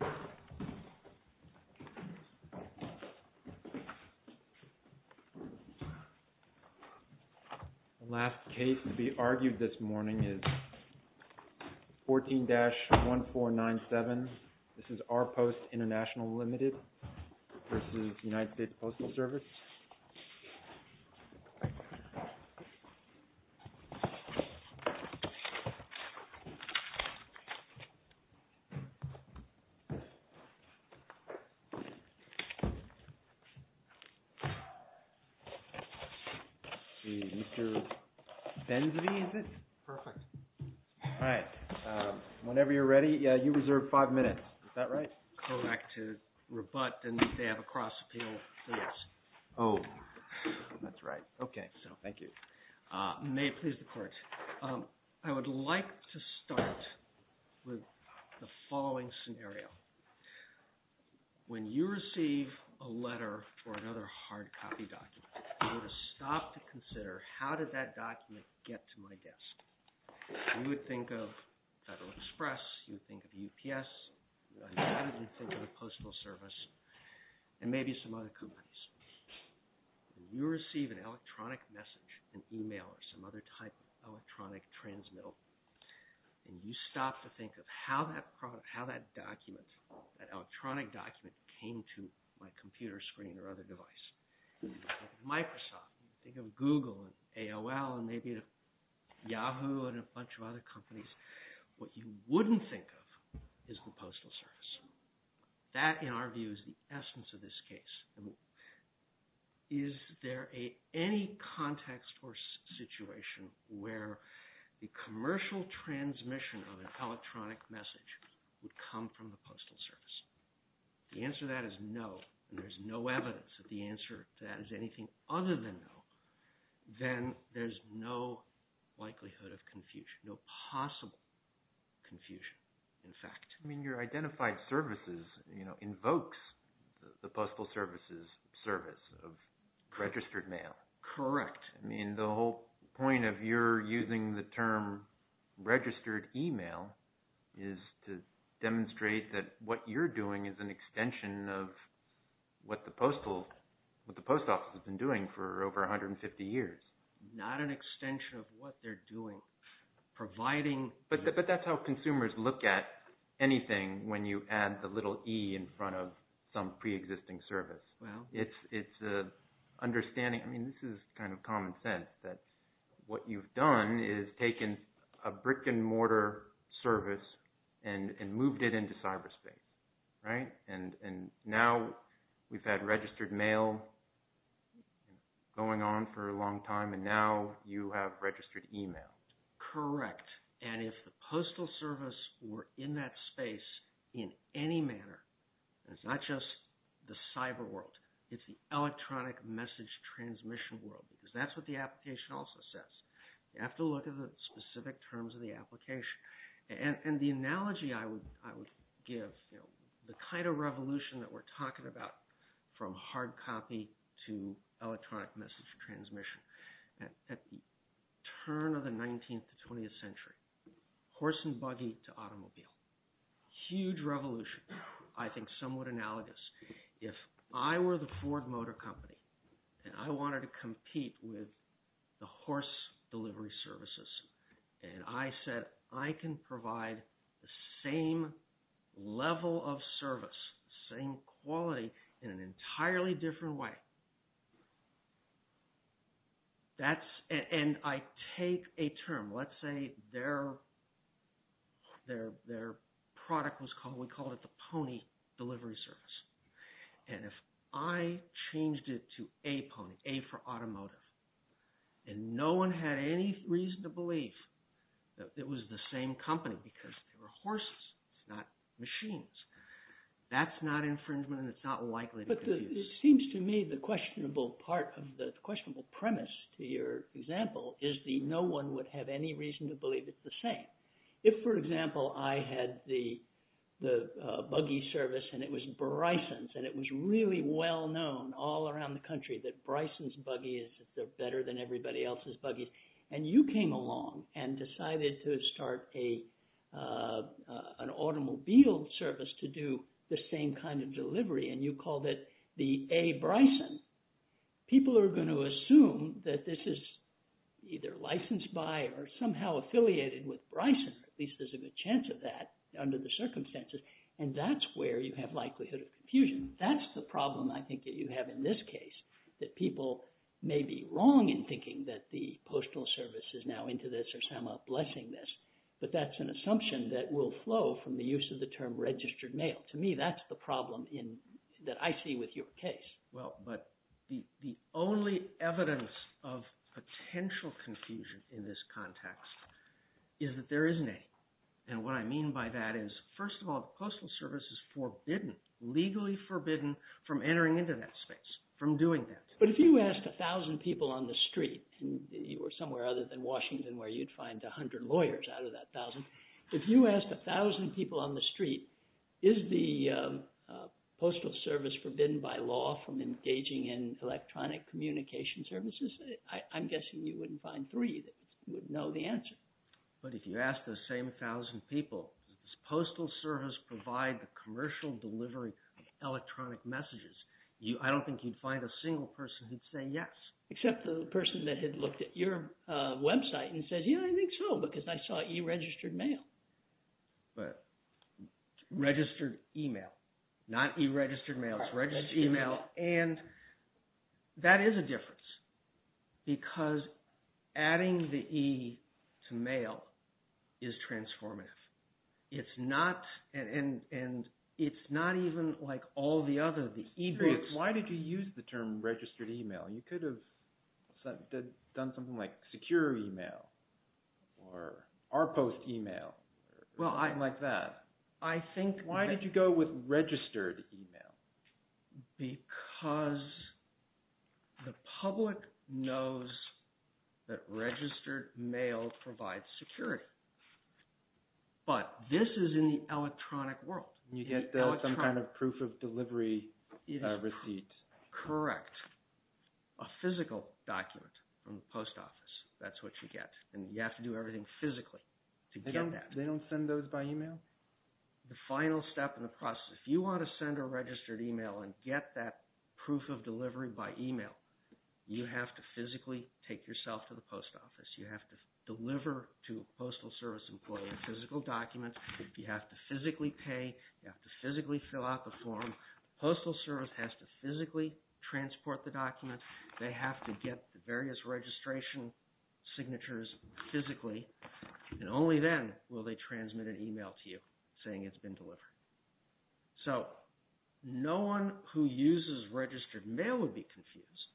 The last case to be argued this morning is 14-1497. This is RPost International Limited v. United States Postal Service. Whenever you're ready, you reserve five minutes. I would like to start with the following scenario. When you receive a letter or another hard copy document, you would stop to consider how did that document get to my desk. You think of UPS, you think of the Postal Service, and maybe some other companies. You receive an electronic message, an email, or some other type of electronic transmittal, and you stop to think of how that document, that electronic document, came to my computer screen or other device. Think of Microsoft, think of Google and AOL and maybe Yahoo and a bunch of other companies. What you wouldn't think of is the Postal Service. That, in our view, is the essence of this case. Is there any context or situation where the commercial transmission of an electronic message would come from the Postal Service? The answer to that is no, and there's no evidence that the answer to that is anything other than no. Then there's no likelihood of confusion, no possible confusion, in fact. Your identified services invokes the Postal Service's service of registered mail. Correct. The whole point of your using the term registered email is to demonstrate that what you're doing is an extension of what the Post Office has been doing for over 150 years. It's not an extension of what they're doing, providing... But that's how consumers look at anything when you add the little e in front of some pre-existing service. Well... It's understanding, I mean, this is kind of common sense, that what you've done is taken a brick and mortar service and moved it into cyberspace, right? And now we've had registered mail going on for a long time, and now you have registered email. Correct. And if the Postal Service were in that space in any manner, it's not just the cyber world, it's the electronic message transmission world, because that's what the application also says. You have to look at the specific terms of the application. And the analogy I would give, the kind of revolution that we're talking about from hard copy to electronic message transmission, at the turn of the 19th to 20th century, horse and buggy to automobile. Huge revolution. I think somewhat analogous. If I were the Ford Motor Company, and I wanted to compete with the horse delivery services, and I said, I can provide the same level of service, same quality, in an entirely different way. And I take a term, let's say their product was called, we called it the pony delivery service. And if I changed it to a pony, a for automotive, and no one had any reason to believe that it was the same company, because they were horses, not machines. That's not infringement, and it's not likely to be used. But it seems to me the questionable part of the questionable premise to your example is the no one would have any reason to believe it's the same. If, for example, I had the buggy service, and it was Bryson's, and it was really well known all around the country that Bryson's buggies are better than everybody else's buggies. And you came along and decided to start an automobile service to do the same kind of delivery, and you called it the A. People are going to assume that this is either licensed by or somehow affiliated with Bryson, or at least there's a good chance of that under the circumstances, and that's where you have likelihood of confusion. That's the problem I think that you have in this case, that people may be wrong in thinking that the postal service is now into this or somehow blessing this, but that's an assumption that will flow from the use of the term registered mail. To me that's the problem that I see with your case. Well, but the only evidence of potential confusion in this context is that there isn't any. And what I mean by that is, first of all, the postal service is forbidden, legally forbidden, from entering into that space, from doing that. But if you asked a thousand people on the street, or somewhere other than Washington where you'd find a hundred lawyers out of that thousand, if you asked a thousand people on the street, is the postal service forbidden by law from engaging in electronic communication services, I'm guessing you wouldn't find three that would know the answer. But if you asked those same thousand people, does postal service provide the commercial delivery of electronic messages, I don't think you'd find a single person who'd say yes. Except the person that had looked at your website and said, yeah, I think so, because I saw e-registered mail. But registered email, not e-registered mail, it's registered email. And that is a difference, because adding the e to mail is transformative. It's not, and it's not even like all the other, the e-books. Why did you use the term registered email? You could have done something like secure email, or our post email, or something like that. Why did you go with registered email? Because the public knows that registered mail provides security. But this is in the electronic world. You get some kind of proof of delivery receipt. Correct. A physical document from the post office, that's what you get. And you have to do everything physically to get that. They don't send those by e-mail? The final step in the process, if you want to send a registered e-mail and get that proof of delivery by e-mail, you have to physically take yourself to the post office. You have to deliver to a postal service employee a physical document. You have to physically pay. You have to physically fill out the form. The postal service has to physically transport the document. They have to get the various registration signatures physically. And only then will they transmit an e-mail to you saying it's been delivered. So no one who uses registered mail would be confused.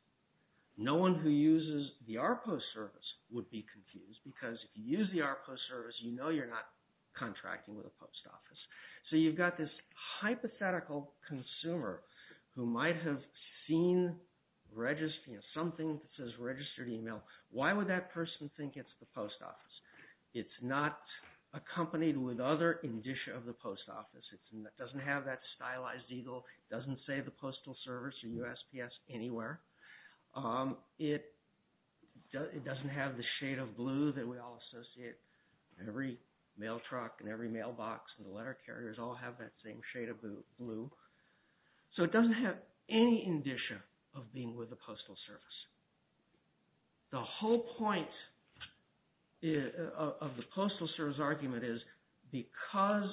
No one who uses the ARPO service would be confused, because if you use the ARPO service, you know you're not contracting with a post office. So you've got this hypothetical consumer who might have seen something that says registered e-mail. Why would that person think it's the post office? It's not accompanied with other indicia of the post office. It doesn't have that stylized eagle. It doesn't say the postal service or USPS anywhere. It doesn't have the shade of blue that we all associate. Every mail truck and every mailbox and the letter carriers all have that same shade of blue. So it doesn't have any indicia of being with the postal service. The whole point of the postal service argument is because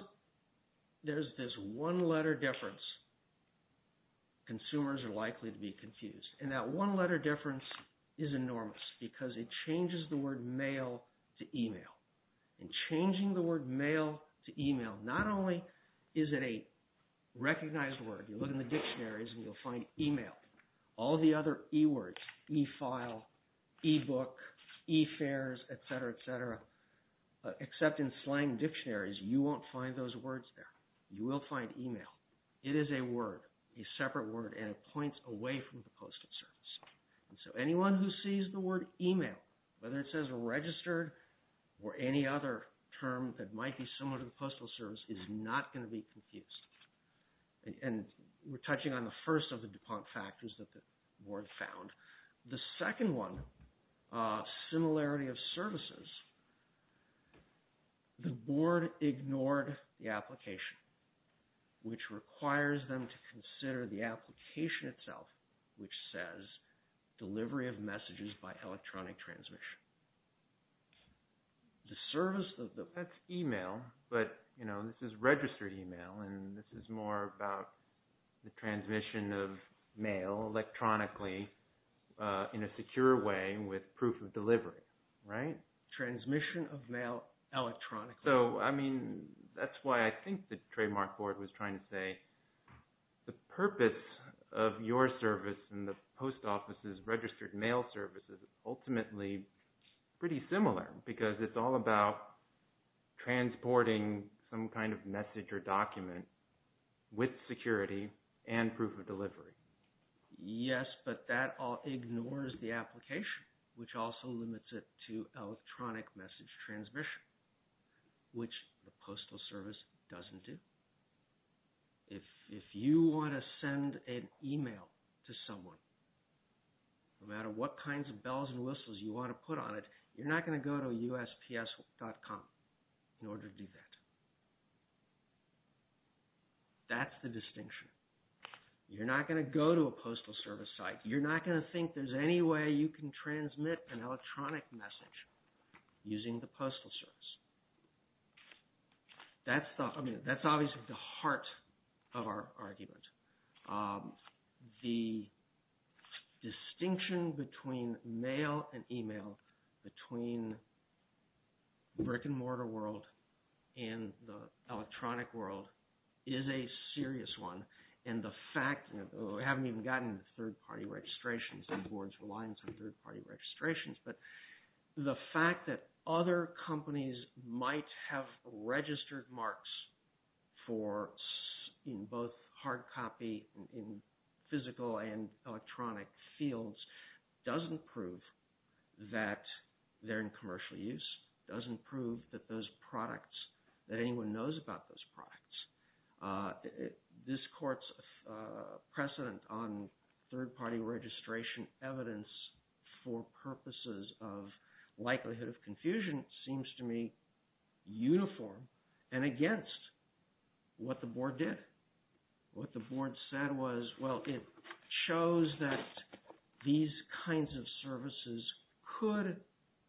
there's this one-letter difference, consumers are likely to be confused. And that one-letter difference is enormous because it changes the word mail to e-mail. And changing the word mail to e-mail, not only is it a recognized word. You look in the dictionaries and you'll find e-mail. All the other e-words, e-file, e-book, e-fares, et cetera, et cetera, except in slang dictionaries, you won't find those words there. You will find e-mail. It is a word, a separate word, and it points away from the postal service. And so anyone who sees the word e-mail, whether it says registered or any other term that might be similar to the postal service, is not going to be confused. And we're touching on the first of the DuPont factors that the board found. The second one, similarity of services, the board ignored the application, which requires them to consider the application itself, which says delivery of messages by electronic transmission. The service of the e-mail, but, you know, this is registered e-mail, and this is more about the transmission of mail electronically in a secure way with proof of delivery, right? Transmission of mail electronically. So, I mean, that's why I think the trademark board was trying to say the purpose of your service and the post office's registered mail service is ultimately pretty similar because it's all about transporting some kind of message or document with security and proof of delivery. Yes, but that all ignores the application, which also limits it to electronic message transmission, which the postal service doesn't do. If you want to send an e-mail to someone, no matter what kinds of bells and whistles you want to put on it, you're not going to go to USPS.com in order to do that. That's the distinction. You're not going to go to a postal service site. You're not going to think there's any way you can transmit an electronic message using the postal service. That's obviously the heart of our argument. The distinction between mail and e-mail, between brick-and-mortar world and the electronic world, is a serious one. And the fact, we haven't even gotten third-party registrations, these boards rely on some third-party registrations, but the fact that other companies might have registered marks in both hard copy and physical and electronic fields doesn't prove that they're in commercial use, doesn't prove that anyone knows about those products. This court's precedent on third-party registration evidence for purposes of likelihood of confusion seems to me uniform and against what the board did. What the board said was, well, it shows that these kinds of services could,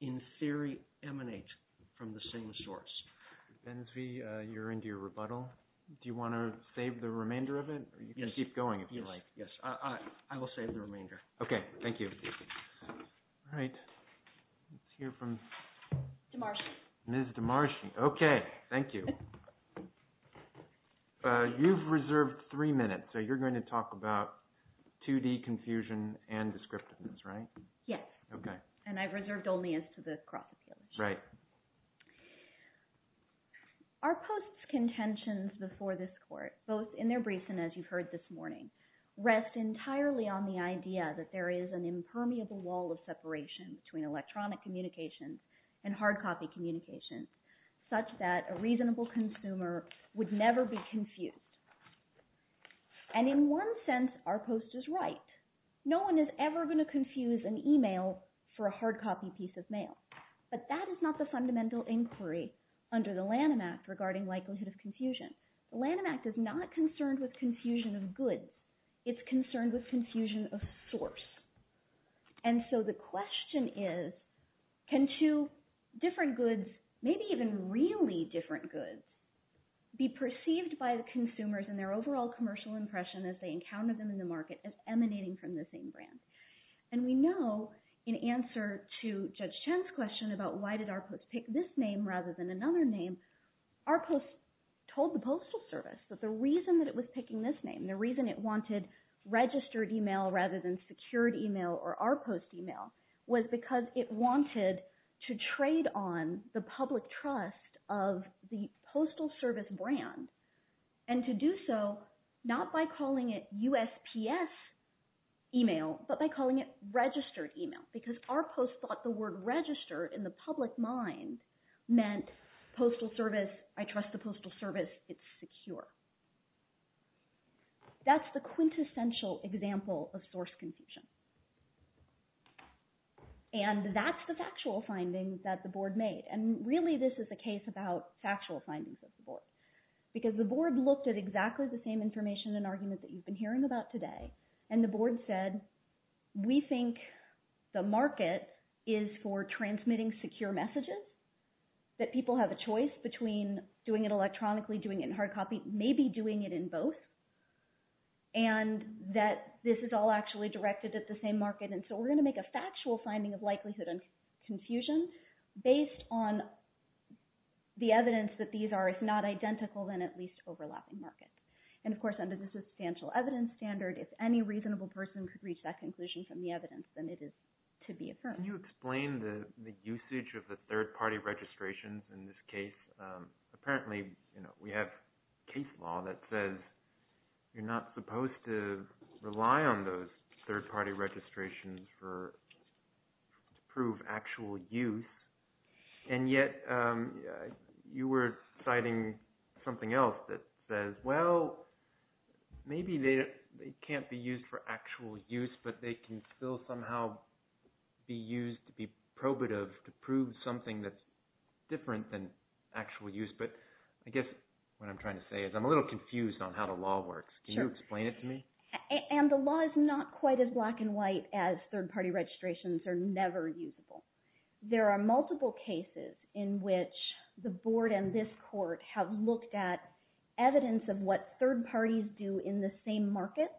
in theory, emanate from the same source. Ms. Bensvie, you're into your rebuttal. Do you want to save the remainder of it, or you can keep going if you like? Yes, I will save the remainder. Okay, thank you. All right. Let's hear from Ms. DeMarschi. Okay, thank you. You've reserved three minutes, so you're going to talk about 2D confusion and descriptiveness, right? Yes. Okay. And I've reserved only as to the cross-appeal issue. Right. Our post's contentions before this court, both in their briefs and as you've heard this morning, rest entirely on the idea that there is an impermeable wall of separation between electronic communications and hard copy communications, such that a reasonable consumer would never be confused. And in one sense, our post is right. No one is ever going to confuse an email for a hard copy piece of mail. But that is not the fundamental inquiry under the Lanham Act regarding likelihood of confusion. The Lanham Act is not concerned with confusion of goods. It's concerned with confusion of source. And so the question is, can two different goods, maybe even really different goods, be perceived by the consumers and their overall commercial impression as they encounter them in the market as emanating from the same brand? And we know, in answer to Judge Chen's question about why did our post pick this name rather than another name, our post told the Postal Service that the reason that it was picking this name, the reason it wanted registered email rather than secured email or our post email, was because it wanted to trade on the public trust of the Postal Service brand and to do so not by calling it USPS email but by calling it registered email because our post thought the word register in the public mind meant Postal Service, I trust the Postal Service, it's secure. That's the quintessential example of source confusion. And that's the factual findings that the Board made. And really this is a case about factual findings of the Board because the Board looked at exactly the same information and argument that you've been hearing about today and the Board said we think the market is for transmitting secure messages, that people have a choice between doing it electronically, doing it in hard copy, maybe doing it in both, and that this is all actually directed at the same market. And so we're going to make a factual finding of likelihood and confusion based on the evidence that these are, if not identical, then at least overlapping markets. And, of course, under the substantial evidence standard, if any reasonable person could reach that conclusion from the evidence, then it is to be affirmed. Can you explain the usage of the third party registrations in this case? Apparently we have case law that says you're not supposed to rely on those third party registrations to prove actual use and yet you were citing something else that says, well, maybe they can't be used for actual use but they can still somehow be used to be probative to prove something that's different than actual use. But I guess what I'm trying to say is I'm a little confused on how the law works. Can you explain it to me? And the law is not quite as black and white as third party registrations are never usable. There are multiple cases in which the Board and this court have looked at evidence of what third parties do in the same market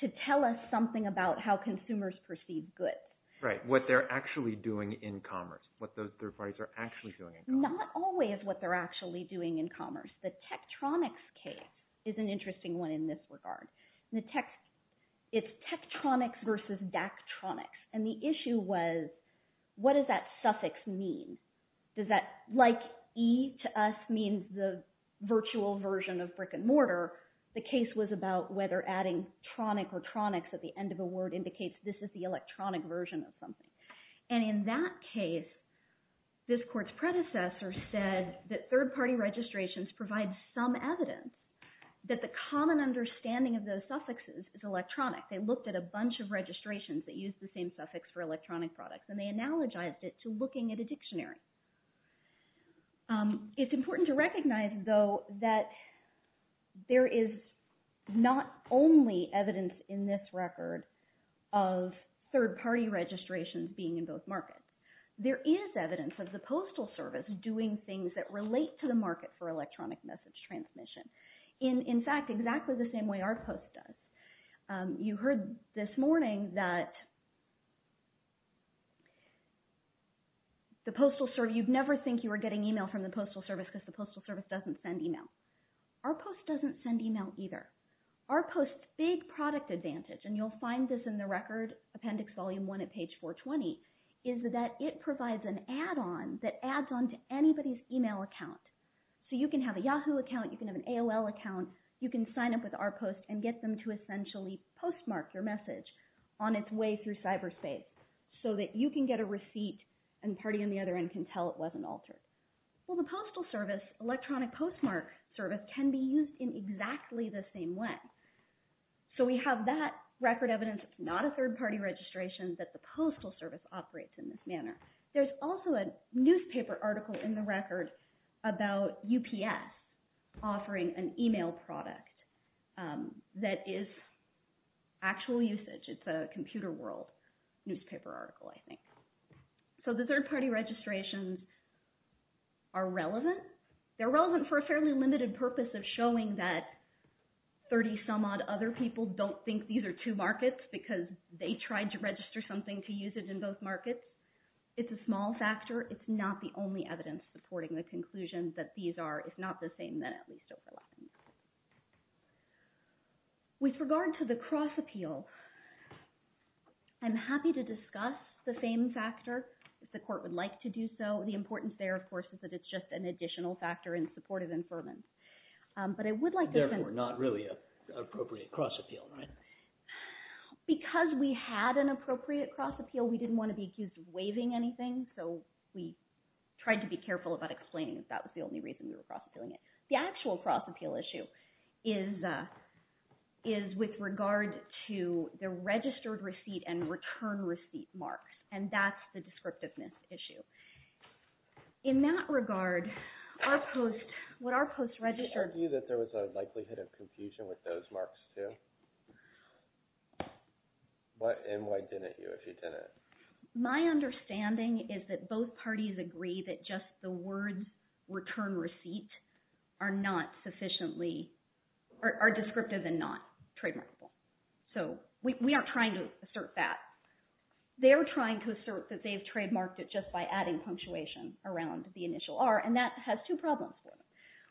to tell us something about how consumers perceive goods. Right, what they're actually doing in commerce, what those third parties are actually doing in commerce. Not always what they're actually doing in commerce. The Tektronix case is an interesting one in this regard. It's Tektronix versus Daktronix. And the issue was what does that suffix mean? Does that, like E to us means the virtual version of brick and mortar, the case was about whether adding tronic or tronix at the end of a word indicates this is the electronic version of something. And in that case, this court's predecessor said that third party registrations provide some evidence that the common understanding of those suffixes is electronic. They looked at a bunch of registrations that used the same suffix for electronic products and they analogized it to looking at a dictionary. It's important to recognize, though, that there is not only evidence in this record of third party registrations being in both markets. There is evidence of the Postal Service doing things that relate to the market for electronic message transmission. In fact, exactly the same way our post does. You heard this morning that you'd never think you were getting e-mail from the Postal Service because the Postal Service doesn't send e-mail. Our post doesn't send e-mail either. Our post's big product advantage, and you'll find this in the Record Appendix Volume 1 at page 420, is that it provides an add-on that adds on to anybody's e-mail account. So you can have a Yahoo account, you can have an AOL account, you can sign up with our post and get them to essentially postmark your message on its way through cyberspace so that you can get a receipt and the party on the other end can tell it wasn't altered. Well, the Postal Service electronic postmark service can be used in exactly the same way. So we have that record evidence. It's not a third party registration that the Postal Service operates in this manner. There's also a newspaper article in the record about UPS offering an e-mail product that is actual usage. It's a Computer World newspaper article, I think. So the third party registrations are relevant. They're relevant for a fairly limited purpose of showing that 30-some-odd other people don't think these are two markets because they tried to register something to use it in both markets. It's a small factor. It's not the only evidence supporting the conclusion that these are, if not the same, then at least overlapping. With regard to the cross-appeal, I'm happy to discuss the same factor if the Court would like to do so. The importance there, of course, is that it's just an additional factor in support of inferments. Therefore, not really an appropriate cross-appeal, right? Because we had an appropriate cross-appeal, we didn't want to be accused of waiving anything, so we tried to be careful about explaining that that was the only reason we were cross-appealing it. The actual cross-appeal issue is with regard to the registered receipt and return receipt marks, and that's the descriptiveness issue. In that regard, what our post-registered... Did you argue that there was a likelihood of confusion with those marks, too? And why didn't you if you didn't? My understanding is that both parties agree that just the words return receipt are not sufficiently – are descriptive and not trademarkable. So we aren't trying to assert that. They're trying to assert that they've trademarked it just by adding punctuation around the initial R, and that has two problems for them.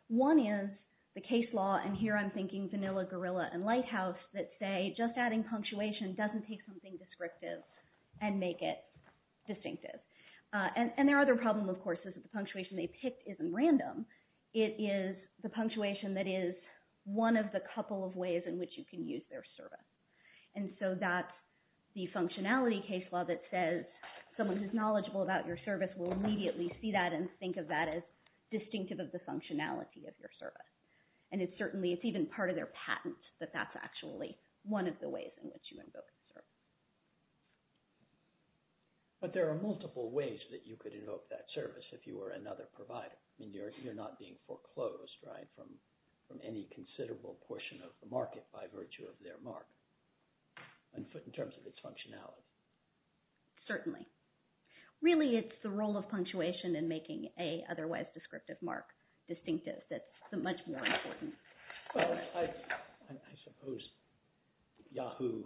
One is the case law, and here I'm thinking Vanilla, Gorilla, and Lighthouse, that say just adding punctuation doesn't take something descriptive and make it distinctive. And their other problem, of course, is that the punctuation they picked isn't random. It is the punctuation that is one of the couple of ways in which you can use their service. And so that's the functionality case law that says someone who's knowledgeable about your service will immediately see that and think of that as distinctive of the functionality of your service. And it's certainly – it's even part of their patent that that's actually one of the ways in which you invoke the service. But there are multiple ways that you could invoke that service if you were another provider. You're not being foreclosed from any considerable portion of the market by virtue of their mark in terms of its functionality. Certainly. Really, it's the role of punctuation in making a otherwise descriptive mark distinctive that's much more important. Well, I suppose Yahoo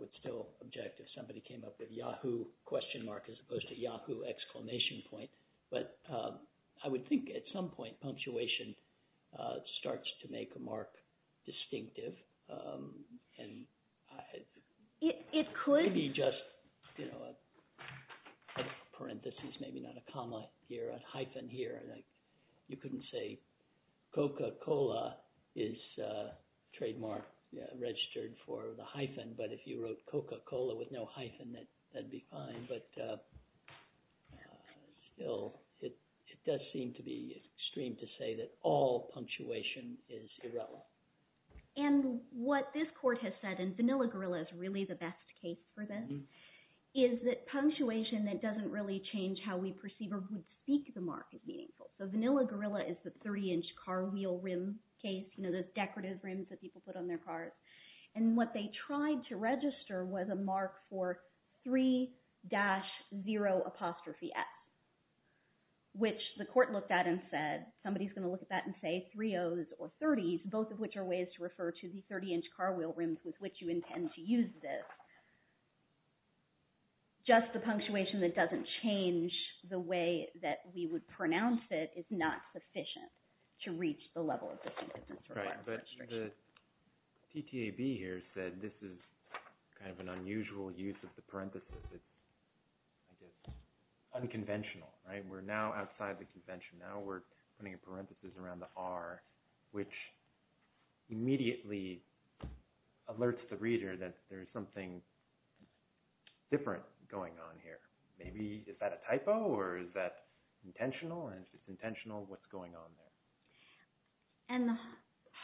would still object if somebody came up with Yahoo question mark as opposed to Yahoo exclamation point. But I would think at some point punctuation starts to make a mark distinctive. And it could be just a parenthesis, maybe not a comma here, a hyphen here. You couldn't say Coca-Cola is trademark registered for the hyphen, but if you wrote Coca-Cola with no hyphen, that'd be fine. But still, it does seem to be extreme to say that all punctuation is irrelevant. And what this court has said, and Vanilla Gorilla is really the best case for this, is that punctuation that doesn't really change how we perceive or would speak the mark is meaningful. So Vanilla Gorilla is the 30-inch car wheel rim case, those decorative rims that people put on their cars. And what they tried to register was a mark for 3-0-X, which the court looked at and said, somebody's going to look at that and say 3-0s or 30s, both of which are ways to refer to the 30-inch car wheel rims with which you intend to use this. Just the punctuation that doesn't change the way that we would pronounce it is not sufficient to reach the level of this instance. Right, but the TTAB here said this is kind of an unusual use of the parenthesis. It's unconventional, right? We're now outside the convention. Now we're putting a parenthesis around the R, which immediately alerts the reader that there's something different going on here. Maybe is that a typo or is that intentional? And if it's intentional, what's going on there? And the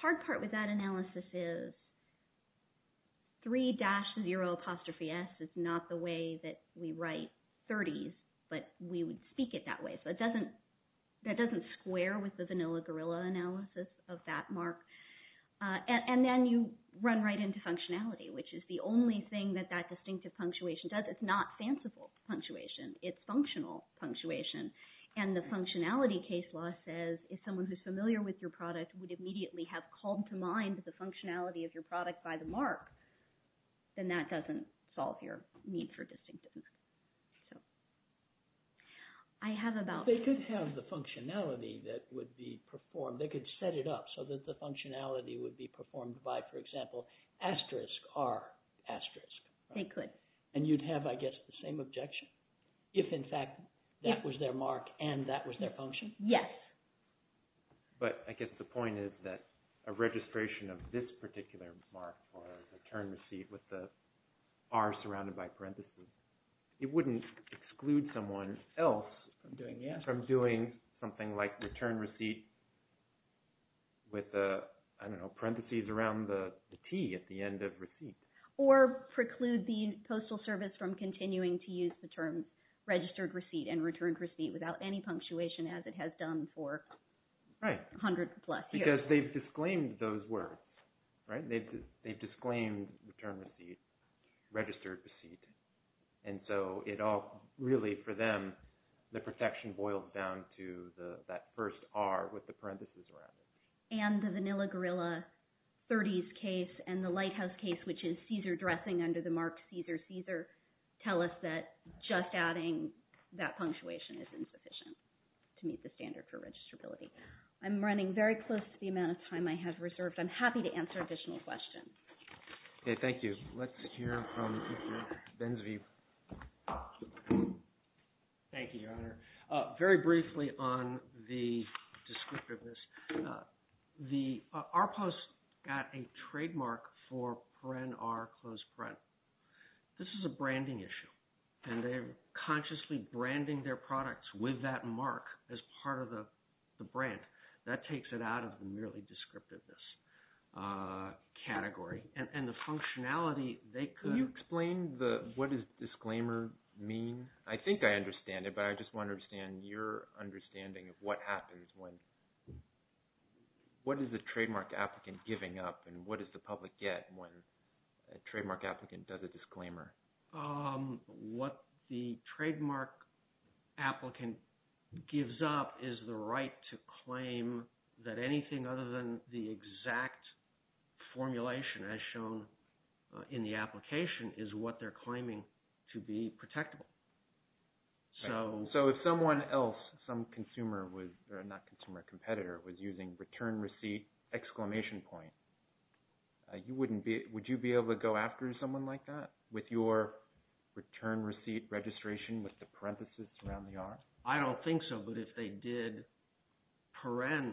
hard part with that analysis is 3-0s is not the way that we write 30s, but we would speak it that way. So that doesn't square with the Vanilla Gorilla analysis of that mark. And then you run right into functionality, which is the only thing that that distinctive punctuation does. It's not fanciful punctuation. It's functional punctuation. And the functionality case law says if someone who's familiar with your product would immediately have called to mind the functionality of your product by the mark, then that doesn't solve your need for distinctiveness. They could have the functionality that would be performed. They could set it up so that the functionality would be performed by, for example, asterisk R asterisk. They could. And you'd have, I guess, the same objection if, in fact, that was their mark and that was their function. Yes. But I guess the point is that a registration of this particular mark for a return receipt with the R surrounded by parentheses, it wouldn't exclude someone else from doing something like return receipt with, I don't know, parentheses around the T at the end of receipt. Or preclude the Postal Service from continuing to use the term registered receipt and returned receipt without any punctuation as it has done for 100 plus years. Because they've disclaimed those words. They've disclaimed the term receipt, registered receipt. And so it all really, for them, the protection boils down to that first R with the parentheses around it. And the vanilla gorilla 30s case and the lighthouse case, which is Caesar dressing under the mark Caesar Caesar, tell us that just adding that punctuation is insufficient to meet the standard for registrability. I'm running very close to the amount of time I have reserved. I'm happy to answer additional questions. Okay. Thank you. Thank you, Your Honor. Very briefly on the descriptiveness. The R Post got a trademark for print R closed print. This is a branding issue. And they're consciously branding their products with that mark as part of the brand. That takes it out of the merely descriptiveness category. And the functionality, they could… Can you explain what does disclaimer mean? I think I understand it. But I just want to understand your understanding of what happens when – what is the trademark applicant giving up? And what does the public get when a trademark applicant does a disclaimer? What the trademark applicant gives up is the right to claim that anything other than the exact formulation as shown in the application is what they're claiming to be protectable. So… So if someone else, some consumer was – not consumer, competitor was using return receipt exclamation point, you wouldn't be – would you be able to go after someone like that with your return receipt registration with the parenthesis around the R? I don't think so. But if they did paren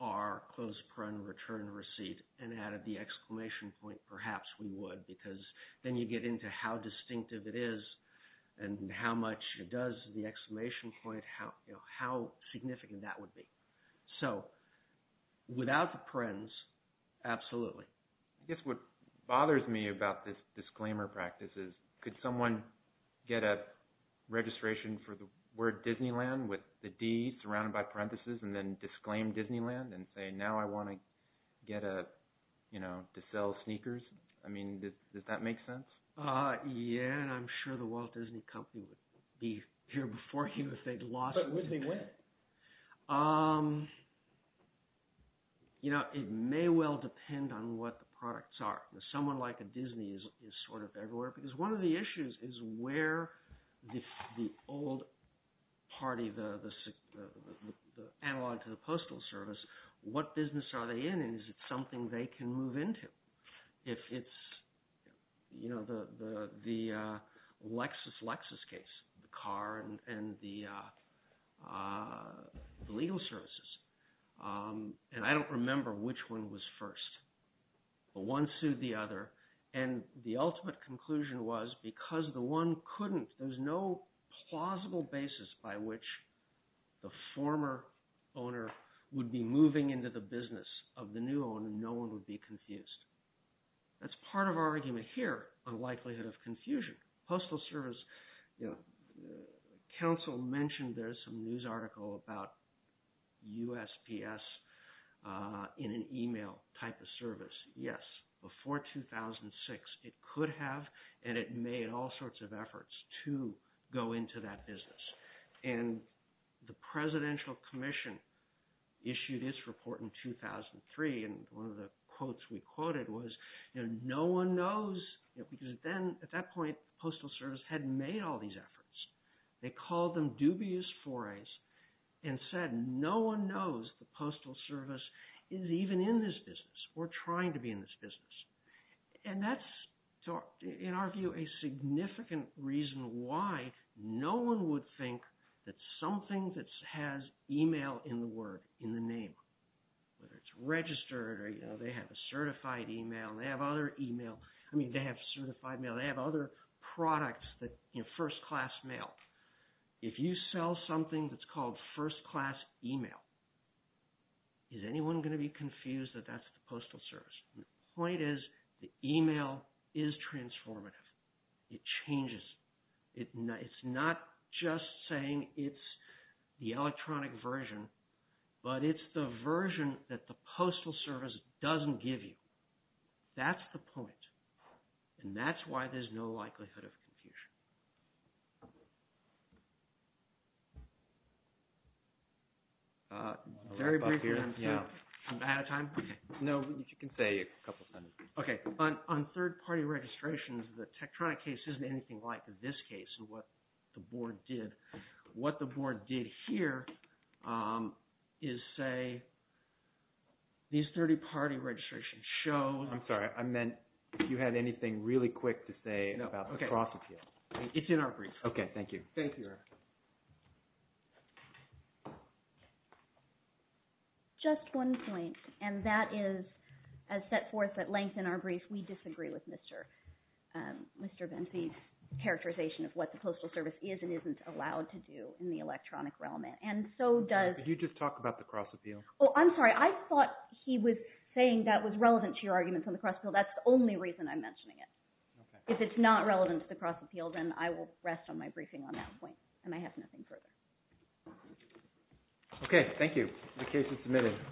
R closed paren return receipt and added the exclamation point, perhaps we would. Because then you get into how distinctive it is and how much it does, the exclamation point, how significant that would be. So without the parens, absolutely. I guess what bothers me about this disclaimer practice is could someone get a registration for the word Disneyland with the D surrounded by parenthesis and then disclaim Disneyland and say, now I want to get a – to sell sneakers? I mean, does that make sense? Yeah, and I'm sure the Walt Disney Company would be here before you if they'd lost it. But would they win? Okay. It may well depend on what the products are. Someone like a Disney is sort of everywhere because one of the issues is where the old party, the analog to the postal service, what business are they in? And is it something they can move into? If it's the Lexus-Lexus case, the car and the legal services, and I don't remember which one was first. But one sued the other, and the ultimate conclusion was because the one couldn't – the former owner would be moving into the business of the new owner and no one would be confused. That's part of our argument here on likelihood of confusion. Postal service, counsel mentioned there's some news article about USPS in an email type of service. Yes, before 2006, it could have, and it made all sorts of efforts to go into that business. And the Presidential Commission issued its report in 2003, and one of the quotes we quoted was, you know, no one knows – because then, at that point, postal service had made all these efforts. They called them dubious forays and said no one knows the postal service is even in this business. We're trying to be in this business. And that's, in our view, a significant reason why no one would think that something that has email in the word, in the name, whether it's registered or, you know, they have a certified email. They have other email – I mean, they have certified mail. They have other products that, you know, first-class mail. If you sell something that's called first-class email, is anyone going to be confused that that's the postal service? The point is the email is transformative. It changes. It's not just saying it's the electronic version, but it's the version that the postal service doesn't give you. That's the point, and that's why there's no likelihood of confusion. Thank you. Very briefly, I'm sorry. I'm out of time? No, you can say a couple sentences. Okay. On third-party registrations, the Tektronik case isn't anything like this case and what the board did. What the board did here is say these third-party registrations show – It's in our brief. Okay, thank you. Thank you. Just one point, and that is, as set forth at length in our brief, we disagree with Mr. Bensie's characterization of what the postal service is and isn't allowed to do in the electronic realm. And so does – Could you just talk about the cross-appeal? Oh, I'm sorry. I thought he was saying that was relevant to your arguments on the cross-appeal. That's the only reason I'm mentioning it. If it's not relevant to the cross-appeal, then I will rest on my briefing on that point, and I have nothing further. Okay, thank you. The case is submitted.